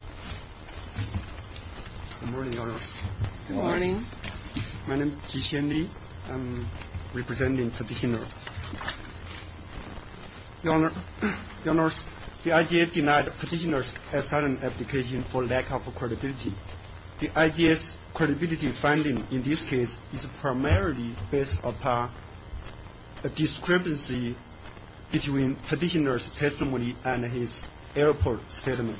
Good morning, Your Honors. My name is Jiqian Li. I am representing petitioners. Your Honors, the IJA denied petitioners' asylum application for lack of credibility. The IJA's credibility finding in this case is primarily based upon a discrepancy between petitioners' testimony and his airport statement.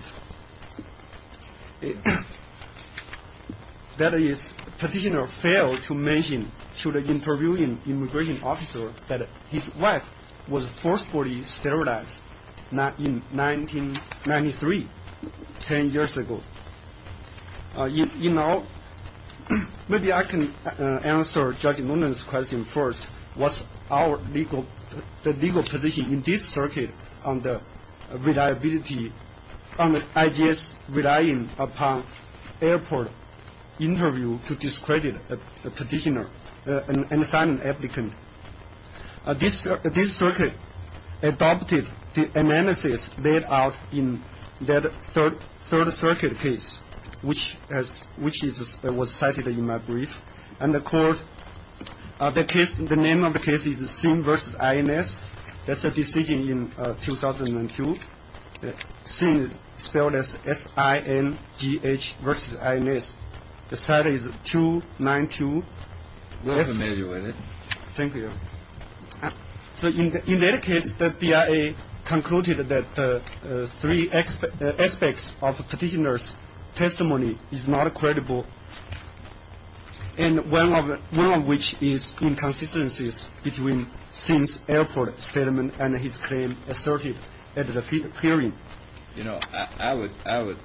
That is, petitioners failed to mention to the interviewing immigration officer that his wife was forcefully sterilized in 1993, 10 years ago. You know, maybe I can answer Judge Nguyen's question first. What's our legal position in this circuit on the reliability, on the IJA's relying upon airport interview to discredit a petitioner, an asylum applicant? This circuit adopted the analysis laid out in that third circuit case, which was cited in my brief. And the court, the name of the case is Singh v. INS. That's a decision in 2002, Singh spelled as S-I-N-G-H v. INS. The site is 292. We're familiar with it. Thank you. So in that case, the BIA concluded that three aspects of petitioners' testimony is not credible, and one of which is inconsistencies between Singh's airport statement and his claim asserted at the hearing. You know, I would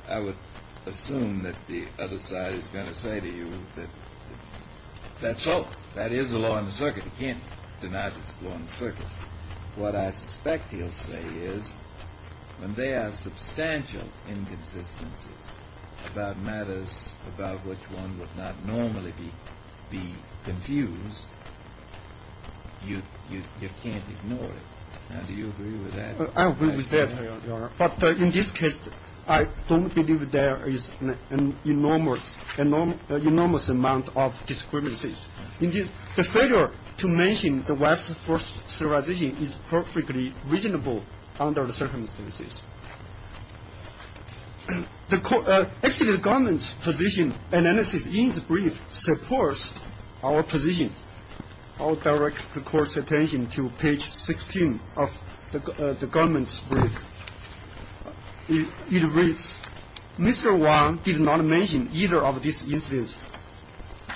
assume that the other side is going to say to you that that's all. That is the law in the circuit. You can't deny that's the law in the circuit. What I suspect he'll say is when there are substantial inconsistencies about matters about which one would not normally be confused, you can't ignore it. Now, do you agree with that? I agree with that, Your Honor. But in this case, I don't believe there is an enormous amount of discrepancies. The failure to mention the wife's forced sterilization is perfectly reasonable under the circumstances. Actually, the government's position analysis in the brief supports our position. I'll direct the Court's attention to page 16 of the government's brief. It reads, Mr. Wang did not mention either of these incidents,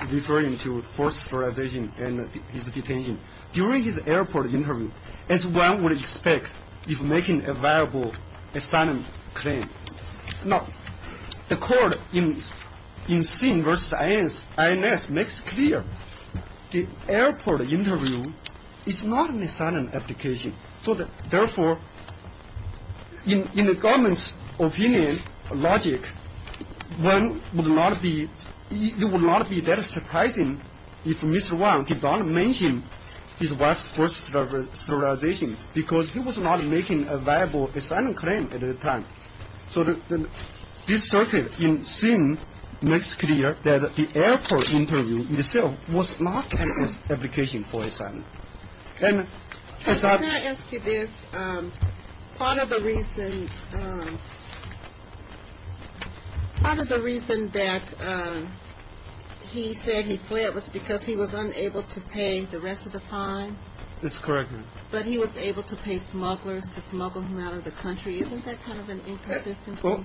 referring to forced sterilization and his detention, during his airport interview as one would expect if making a viable asylum claim. Now, the Court in Singh v. INS makes clear the airport interview is not an asylum application. So therefore, in the government's opinion, logic, one would not be – it would not be that surprising if Mr. Wang did not mention his wife's forced sterilization because he was not making a viable asylum claim at the time. So this circuit in Singh makes clear that the airport interview itself was not an application for asylum. Can I ask you this? Part of the reason – part of the reason that he said he fled was because he was unable to pay the rest of the fine? That's correct, Your Honor. But he was able to pay smugglers to smuggle him out of the country. Isn't that kind of an inconsistency? Well,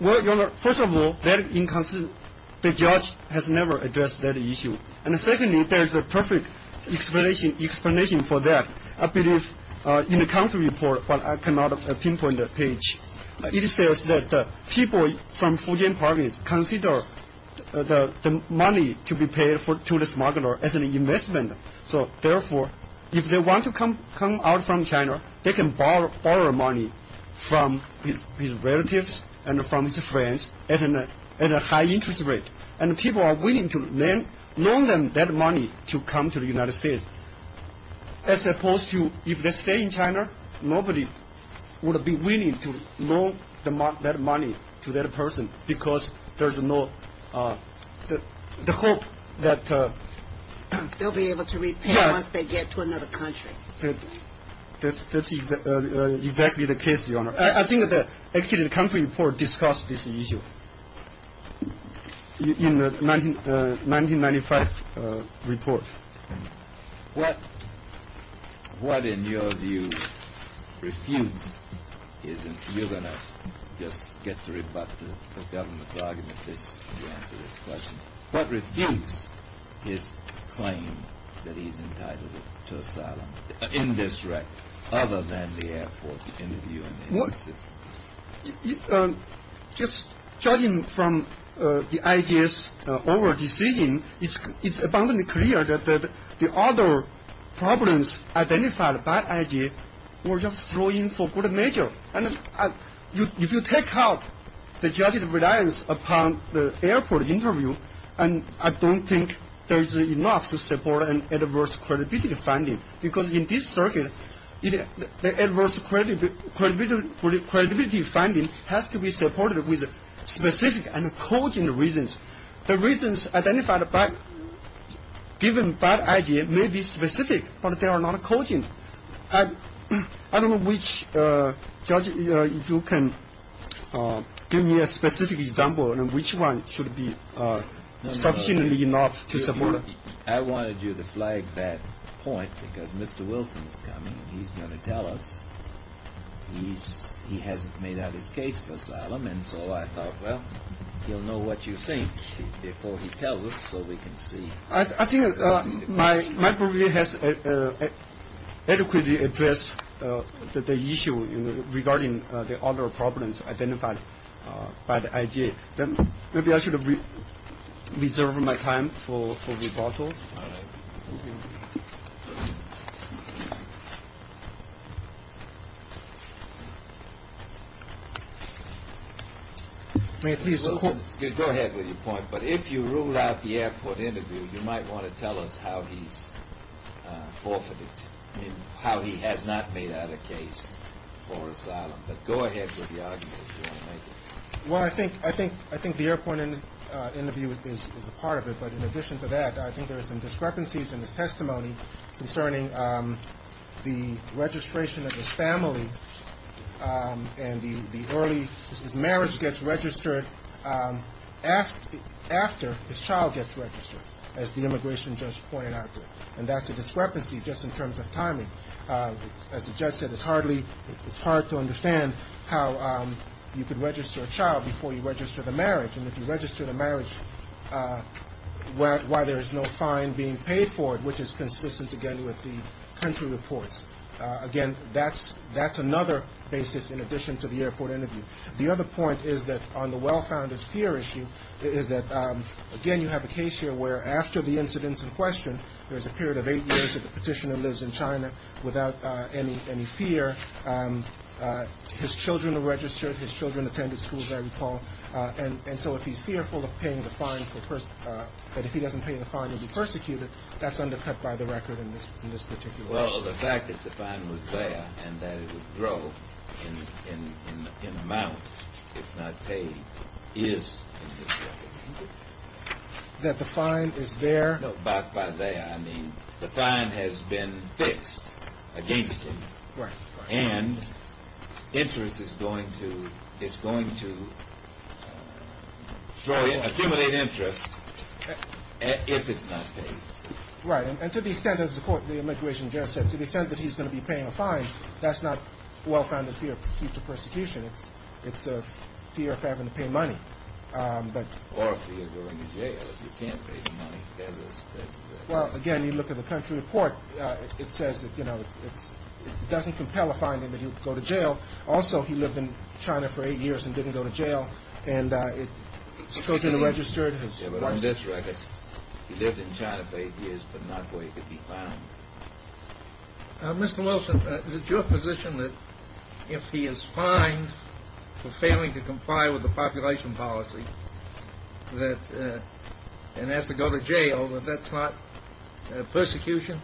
Your Honor, first of all, that inconsistency, the judge has never addressed that issue. And secondly, there is a perfect explanation for that, I believe, in the country report, but I cannot pinpoint the page. It says that people from Fujian province consider the money to be paid to the smuggler as an investment. So, therefore, if they want to come out from China, they can borrow money from his relatives and from his friends at a high interest rate. And people are willing to loan them that money to come to the United States, as opposed to if they stay in China, nobody would be willing to loan that money to that person because there's no – the hope that – They'll be able to repay once they get to another country. That's exactly the case, Your Honor. I think that actually the country report discussed this issue in the 1995 report. What, in your view, refutes his – you're going to just get to rebut the government's argument if you answer this question. What refutes his claim that he's entitled to asylum in this record, other than the airport interview and his existence? Just judging from the IG's overall decision, it's abundantly clear that the other problems identified by IG were just thrown in for good measure. And if you take out the judge's reliance upon the airport interview, I don't think there's enough to support an adverse credibility finding, because in this circuit, the adverse credibility finding has to be supported with specific and cogent reasons. The reasons identified by – given by IG may be specific, but they are not cogent. I don't know which judge – if you can give me a specific example and which one should be sufficiently enough to support it. I wanted you to flag that point because Mr. Wilson is coming and he's going to tell us he hasn't made out his case for asylum. And so I thought, well, he'll know what you think before he tells us so we can see. I think my brief has adequately addressed the issue regarding the other problems identified by the IG. Maybe I should have reserved my time for rebuttal. All right. Go ahead with your point, but if you rule out the airport interview, you might want to tell us how he's forfeited, how he has not made out a case for asylum. But go ahead with the argument if you want to make it. Well, I think the airport interview is a part of it. But in addition to that, I think there are some discrepancies in his testimony concerning the registration of his family and the early – his marriage gets registered after his child gets registered, as the immigration judge pointed out. And that's a discrepancy just in terms of timing. As the judge said, it's hardly – it's hard to understand how you can register a child before you register the marriage. And if you register the marriage while there is no fine being paid for it, which is consistent, again, with the country reports, again, that's another basis in addition to the airport interview. The other point is that on the well-founded fear issue is that, again, you have a case here where after the incidents in question, there's a period of eight years that the petitioner lives in China without any fear. His children are registered. His children attended school, as I recall. And so if he's fearful of paying the fine for – that if he doesn't pay the fine, he'll be persecuted, that's undercut by the record in this particular case. That the fine is there. No, by there, I mean the fine has been fixed against him. Right. And interest is going to – it's going to destroy – accumulate interest if it's not paid. Right. And to the extent, as the court – the immigration judge said, to the extent that he's going to be paying a fine, that's not a well-founded fear of future persecution. It's a fear of having to pay money. Or a fear of going to jail if you can't pay the money. Well, again, you look at the country report. It says that, you know, it doesn't compel a finding that he would go to jail. Also, he lived in China for eight years and didn't go to jail. And his children are registered. Yeah, but on this record, he lived in China for eight years but not where he could be found. Mr. Wilson, is it your position that if he is fined for failing to comply with the population policy, that – and has to go to jail, that that's not persecution?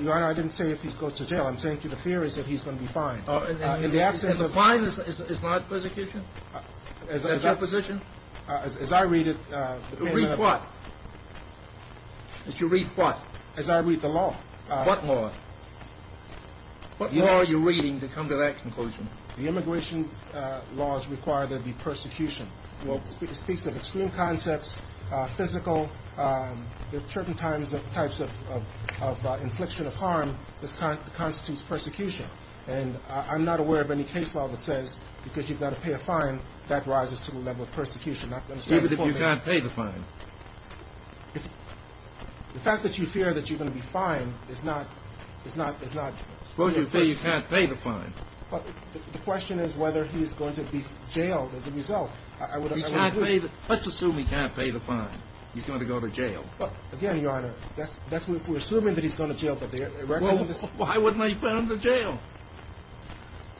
Your Honor, I didn't say if he goes to jail. I'm saying the fear is that he's going to be fined. In the absence of – And the fine is not persecution? Is that your position? As I read it – Read what? If you read what? As I read the law. What law? What law are you reading to come to that conclusion? The immigration laws require there to be persecution. Well, it speaks of extreme concepts, physical – there are certain types of infliction of harm that constitutes persecution. And I'm not aware of any case law that says because you've got to pay a fine, that rises to the level of persecution. Even if you can't pay the fine? If – the fact that you fear that you're going to be fined is not – is not – is not – Suppose you say you can't pay the fine. But the question is whether he's going to be jailed as a result. I would – He can't pay the – let's assume he can't pay the fine. He's going to go to jail. But, again, Your Honor, that's – we're assuming that he's going to jail, but the – Well, why wouldn't I put him to jail?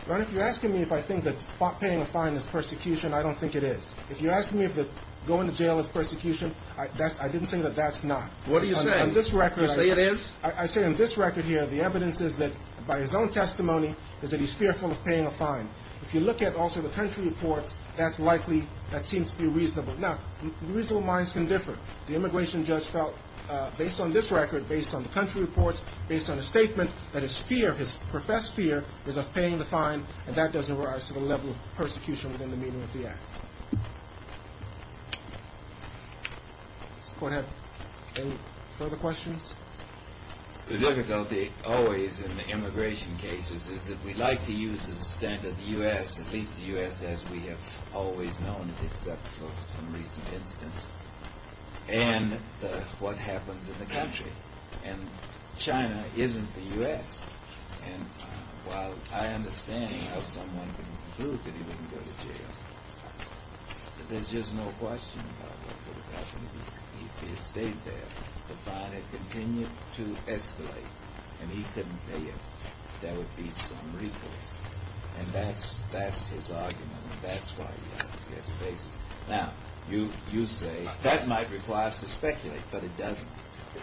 Your Honor, if you're asking me if I think that paying a fine is persecution, I don't think it is. If you're asking me if going to jail is persecution, I didn't say that that's not. What are you saying? On this record – You say it is? I say on this record here the evidence is that, by his own testimony, is that he's fearful of paying a fine. If you look at also the country reports, that's likely – that seems to be reasonable. Now, reasonable minds can differ. The immigration judge felt, based on this record, based on the country reports, based on his statement, that his fear, his professed fear, is of paying the fine, and that doesn't rise to the level of persecution within the meaning of the act. Does the Court have any further questions? The difficulty always in the immigration cases is that we like to use the standard U.S., at least the U.S. as we have always known it, except for some recent incidents, and what happens in the country. And China isn't the U.S. And while I understand how someone can conclude that he wouldn't go to jail, there's just no question about what would have happened if he had stayed there. The fine had continued to escalate, and he couldn't pay it. There would be some recourse. And that's his argument, and that's why he has a basis. Now, you say that might require us to speculate, but it doesn't.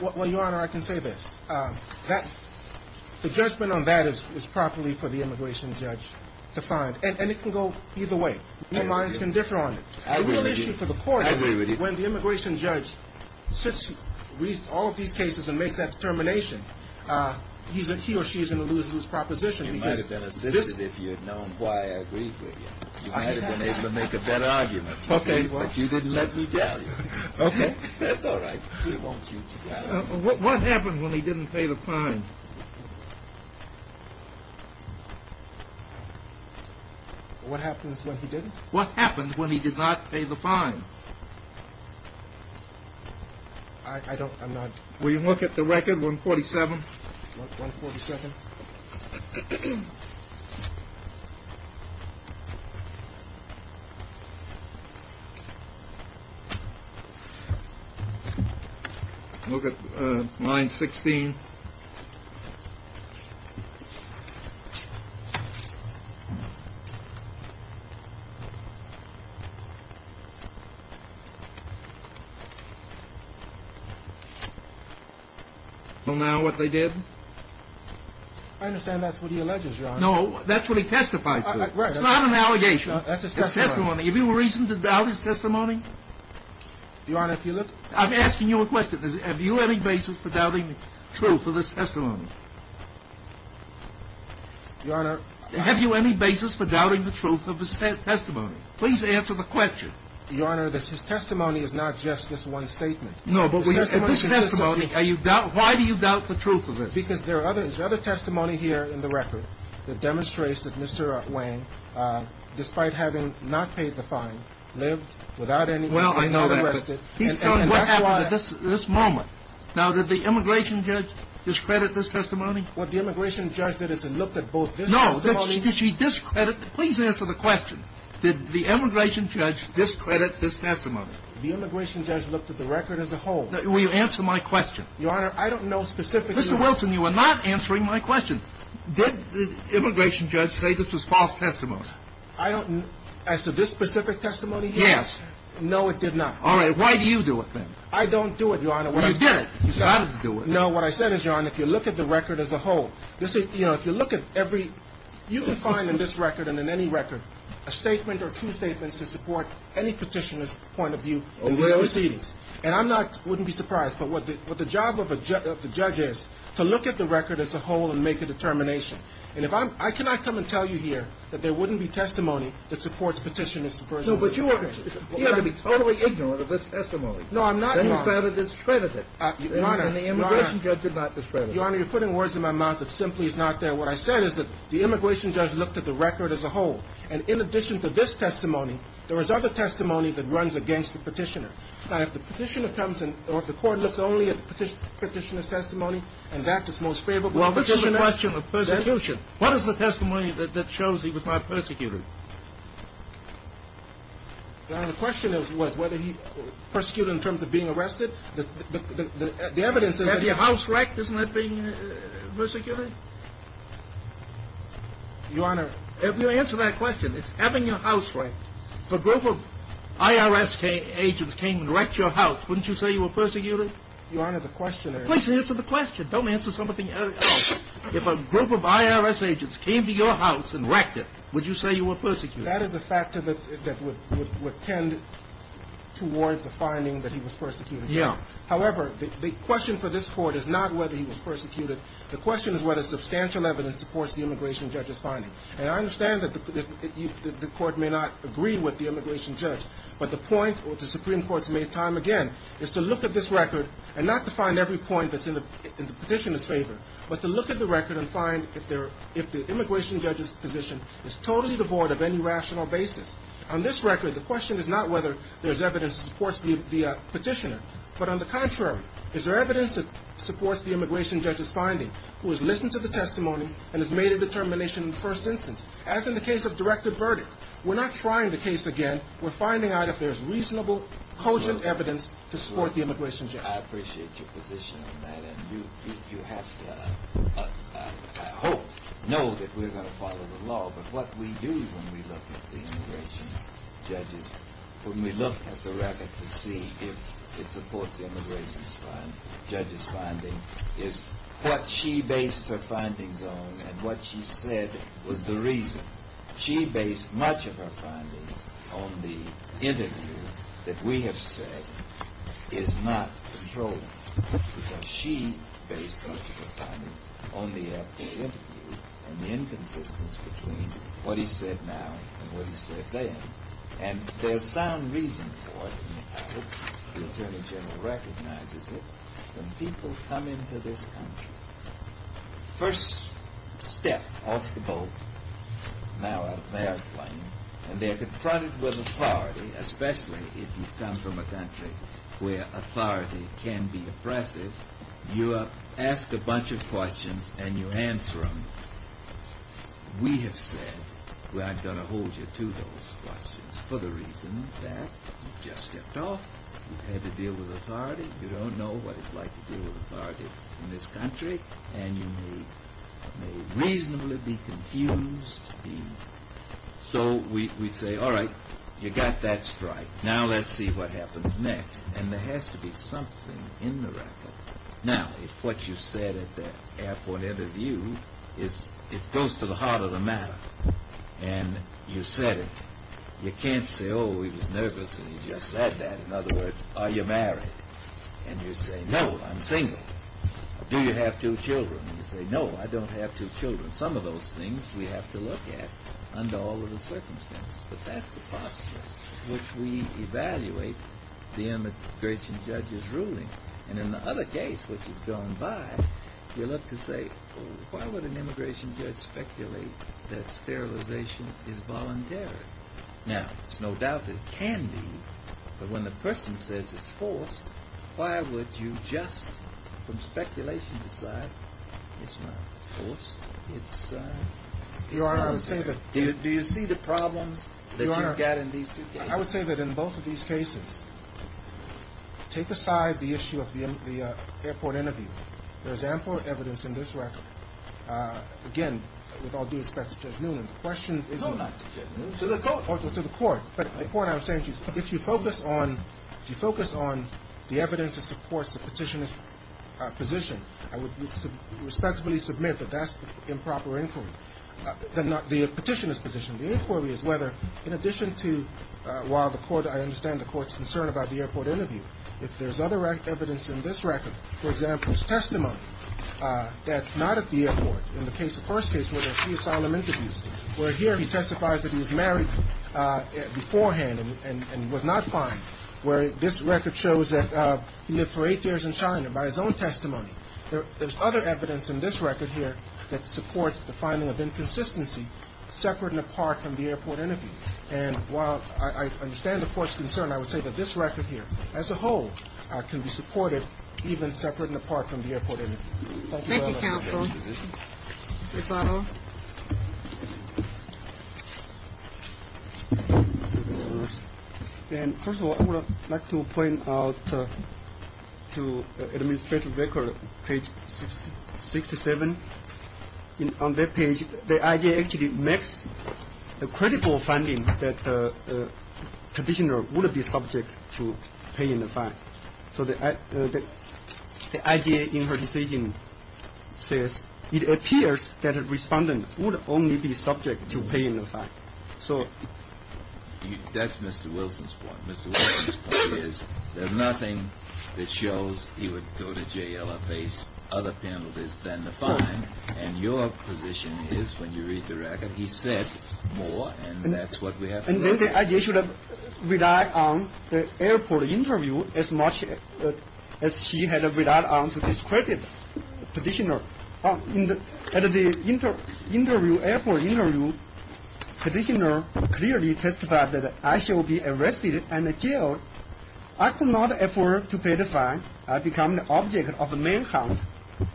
Well, Your Honor, I can say this. The judgment on that is properly for the immigration judge to find, and it can go either way. Your minds can differ on it. The real issue for the Court is when the immigration judge reads all of these cases and makes that determination, he or she is going to lose his proposition. You might have been assisted if you had known why I agreed with you. You might have been able to make a better argument. But you didn't let me down. That's all right. What happened when he didn't pay the fine? What happens when he didn't? What happened when he did not pay the fine? I don't, I'm not. Will you look at the record, 147? 147. Look at line 16. Well, now, what they did? I understand that's what he alleges, Your Honor. No, that's what he testified to. It's not an allegation. That's his testimony. Have you a reason to doubt his testimony? Your Honor, if you look. I'm asking you a question. Have you any basis for doubting the truth of his testimony? Your Honor. Have you any basis for doubting the truth of his testimony? Please answer the question. Your Honor, his testimony is not just this one statement. No, but this testimony. Why do you doubt the truth of it? Because there is other testimony here in the record that demonstrates that Mr. Wang, despite having not paid the fine, lived without any reason. Well, I know that. He's telling what happened at this moment. Now, did the immigration judge discredit this testimony? What the immigration judge did is look at both this testimony. No. Did she discredit? Please answer the question. Did the immigration judge discredit this testimony? The immigration judge looked at the record as a whole. Will you answer my question? Your Honor, I don't know specifically. Mr. Wilson, you are not answering my question. Did the immigration judge say this was false testimony? I don't know. As to this specific testimony? Yes. No, it did not. All right. Why do you do it, then? I don't do it, Your Honor. Well, you did it. You said it. No, what I said is, Your Honor, if you look at the record as a whole, you know, if you look at every you can find in this record and in any record a statement or two statements to support any petitioner's point of view in the proceedings. And I'm not, wouldn't be surprised. But what the job of the judge is to look at the record as a whole and make a determination. And if I'm, I cannot come and tell you here that there wouldn't be testimony that supports petitioner's version of this. No, but you ought to be totally ignorant of this testimony. No, I'm not. Then you found it discredited. Your Honor. And the immigration judge did not discredit it. Your Honor, you're putting words in my mouth that simply is not there. What I said is that the immigration judge looked at the record as a whole. And in addition to this testimony, there was other testimony that runs against the petitioner. Now, if the petitioner comes and, or if the court looks only at the petitioner's testimony and that is most favorable. Well, this is a question of persecution. What is the testimony that shows he was not persecuted? Your Honor, the question was whether he persecuted in terms of being arrested. The evidence is that. Have your house wrecked? Isn't that being persecuted? Your Honor. If you answer that question, it's having your house wrecked. If a group of IRS agents came and wrecked your house, wouldn't you say you were persecuted? Your Honor, the question is. Please answer the question. Don't answer something else. If a group of IRS agents came to your house and wrecked it, would you say you were persecuted? That is a factor that would tend towards a finding that he was persecuted. Yeah. However, the question for this Court is not whether he was persecuted. The question is whether substantial evidence supports the immigration judge's finding. And I understand that the Court may not agree with the immigration judge. But the point, which the Supreme Court's made time again, is to look at this record and not to find every point that's in the petitioner's favor. But to look at the record and find if the immigration judge's position is totally devoid of any rational basis. On this record, the question is not whether there's evidence that supports the petitioner. But on the contrary, is there evidence that supports the immigration judge's finding, who has listened to the testimony and has made a determination in the first instance? As in the case of directed verdict, we're not trying the case again. We're finding out if there's reasonable, cogent evidence to support the immigration judge. I appreciate your position on that. And you have to, I hope, know that we're going to follow the law. But what we do when we look at the immigration judge's – when we look at the record to see if it supports the immigration judge's finding is what she based her findings on and what she said was the reason. She based much of her findings on the interview that we have said is not controllable. Because she based much of her findings on the actual interview and the inconsistence between what he said now and what he said then. And there's sound reason for it, and I hope the Attorney General recognizes it. When people come into this country, first step off the boat, now out of the airplane, and they're confronted with authority, especially if you come from a country where authority can be oppressive, you ask a bunch of questions and you answer them. We have said, well, I'm going to hold you to those questions for the reason that you've just stepped off, you've had to deal with authority, you don't know what it's like to deal with authority in this country, and you may reasonably be confused. So we say, all right, you got that strike, now let's see what happens next. And there has to be something in the record. Now, if what you said at that airport interview goes to the heart of the matter, and you said it, you can't say, oh, he was nervous and he just said that. In other words, are you married? And you say, no, I'm single. Do you have two children? And you say, no, I don't have two children. Some of those things we have to look at under all of the circumstances. And in the other case, which has gone by, you look to say, why would an immigration judge speculate that sterilization is voluntary? Now, it's no doubt it can be, but when the person says it's forced, why would you just from speculation decide it's not forced, it's voluntary? Do you see the problems that you've got in these two cases? I would say that in both of these cases, take aside the issue of the airport interview. There's ample evidence in this record. Again, with all due respect to Judge Newman, the question is to the court. But the point I was saying, if you focus on the evidence that supports the petitioner's position, I would respectfully submit that that's improper inquiry. The petitioner's position, the inquiry is whether, in addition to, while I understand the court's concern about the airport interview, if there's other evidence in this record, for example, his testimony that's not at the airport, in the first case where there are two asylum interviews, where here he testifies that he was married beforehand and was not fined, where this record shows that he lived for eight years in China by his own testimony. There's other evidence in this record here that supports the finding of inconsistency separate and apart from the airport interview. And while I understand the court's concern, I would say that this record here as a whole can be supported even separate and apart from the airport interview. Thank you, counsel. First of all, I would like to point out to Administrative Record, page 67. On that page, the IJA actually makes a credible finding that the petitioner would be subject to paying the fine. So the IJA in her decision says it appears that a respondent would only be subject to paying the fine. So that's Mr. Wilson's point. Mr. Wilson's point is there's nothing that shows he would go to jail or face other penalties than the fine. And your position is, when you read the record, he said more, and that's what we have here. And then the IJA should have relied on the airport interview as much as she had relied on the discredited petitioner. At the interview, airport interview, petitioner clearly testified that I shall be arrested and jailed. I could not afford to pay the fine. I become the object of the manhunt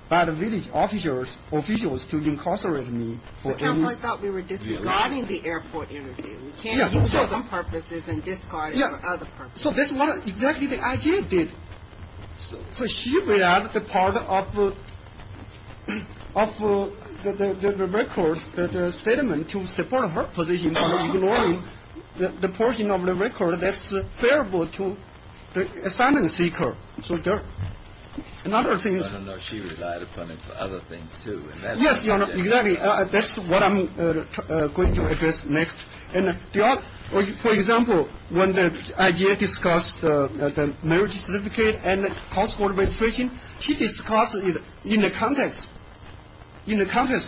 by the village officials to incarcerate me. But, counsel, I thought we were disregarding the airport interview. We can't use it for some purposes and discard it for other purposes. So that's what exactly the IJA did. So she relied on the part of the record, the statement, to support her position, ignoring the portion of the record that's favorable to the assignment seeker. So there are other things. I don't know if she relied upon it for other things, too. Yes, Your Honor, exactly. That's what I'm going to address next. For example, when the IJA discussed the marriage certificate and the household registration, she discussed it in the context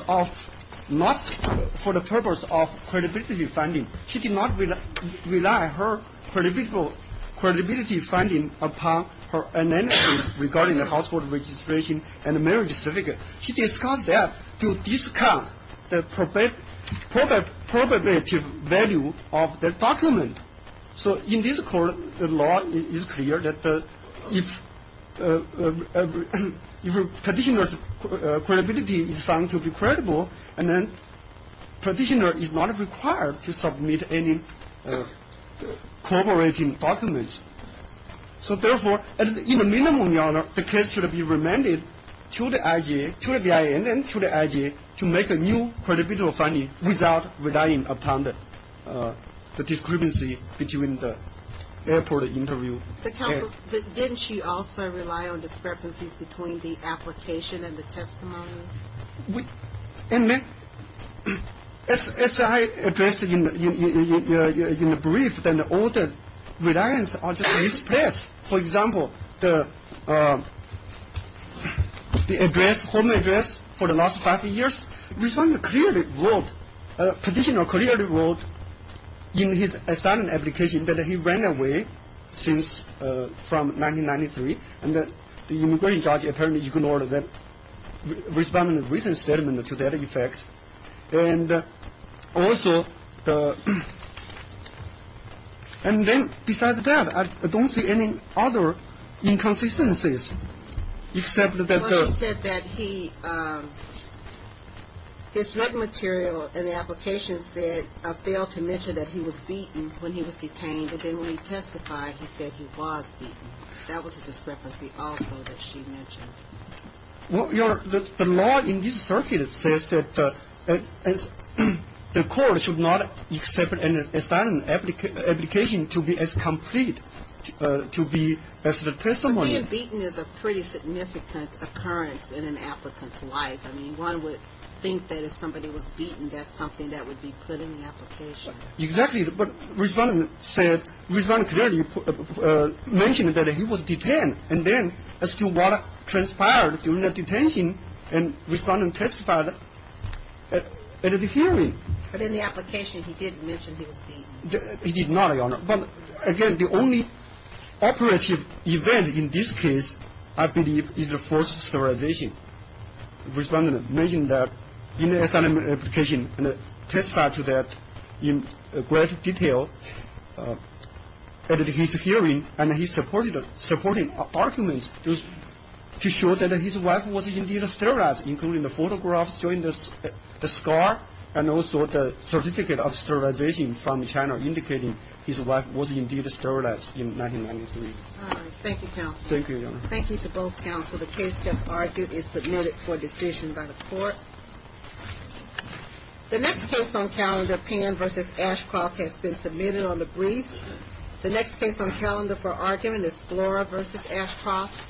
of not for the purpose of credibility finding. She did not rely her credibility finding upon her analysis regarding the household registration and the marriage certificate. She discussed that to discount the probative value of the document. So in this court, the law is clear that if a practitioner's credibility is found to be credible, then the practitioner is not required to submit any corroborating documents. So therefore, in the minimum, Your Honor, the case should be remanded to the IJA, to the BIN, and to the IJA to make a new credibility finding without relying upon the discrepancy between the airport interview. But, Counsel, didn't she also rely on discrepancies between the application and the testimony? As I addressed in the brief, then all the reliance are just misplaced. For example, the address, home address for the last five years, respondent clearly wrote, practitioner clearly wrote in his assignment application that he ran away from 1993, and that the immigration judge apparently ignored that respondent's written statement to that effect. And also the – and then besides that, I don't see any other inconsistencies except that the – Well, she said that he – his written material in the application said – failed to mention that he was beaten when he was detained, and then when he testified, he said he was beaten. That was a discrepancy also that she mentioned. Well, Your Honor, the law in this circuit says that the court should not accept an assignment application to be as complete to be as the testimony. But being beaten is a pretty significant occurrence in an applicant's life. I mean, one would think that if somebody was beaten, that's something that would be put in the application. Exactly. But respondent said – respondent clearly mentioned that he was detained, and then as to what transpired during the detention, and respondent testified at the hearing. But in the application, he didn't mention he was beaten. He did not, Your Honor. But again, the only operative event in this case, I believe, is the forced sterilization. Respondent mentioned that in the assignment application, and testified to that in great detail at his hearing, and he supported – supporting arguments to show that his wife was indeed sterilized, including the photographs showing the scar and also the certificate of sterilization from China indicating his wife was indeed sterilized in 1993. Thank you, Your Honor. Thank you to both counsel. The case just argued is submitted for decision by the court. The next case on calendar, Pan v. Ashcroft, has been submitted on the briefs. The next case on calendar for argument is Flora v. Ashcroft.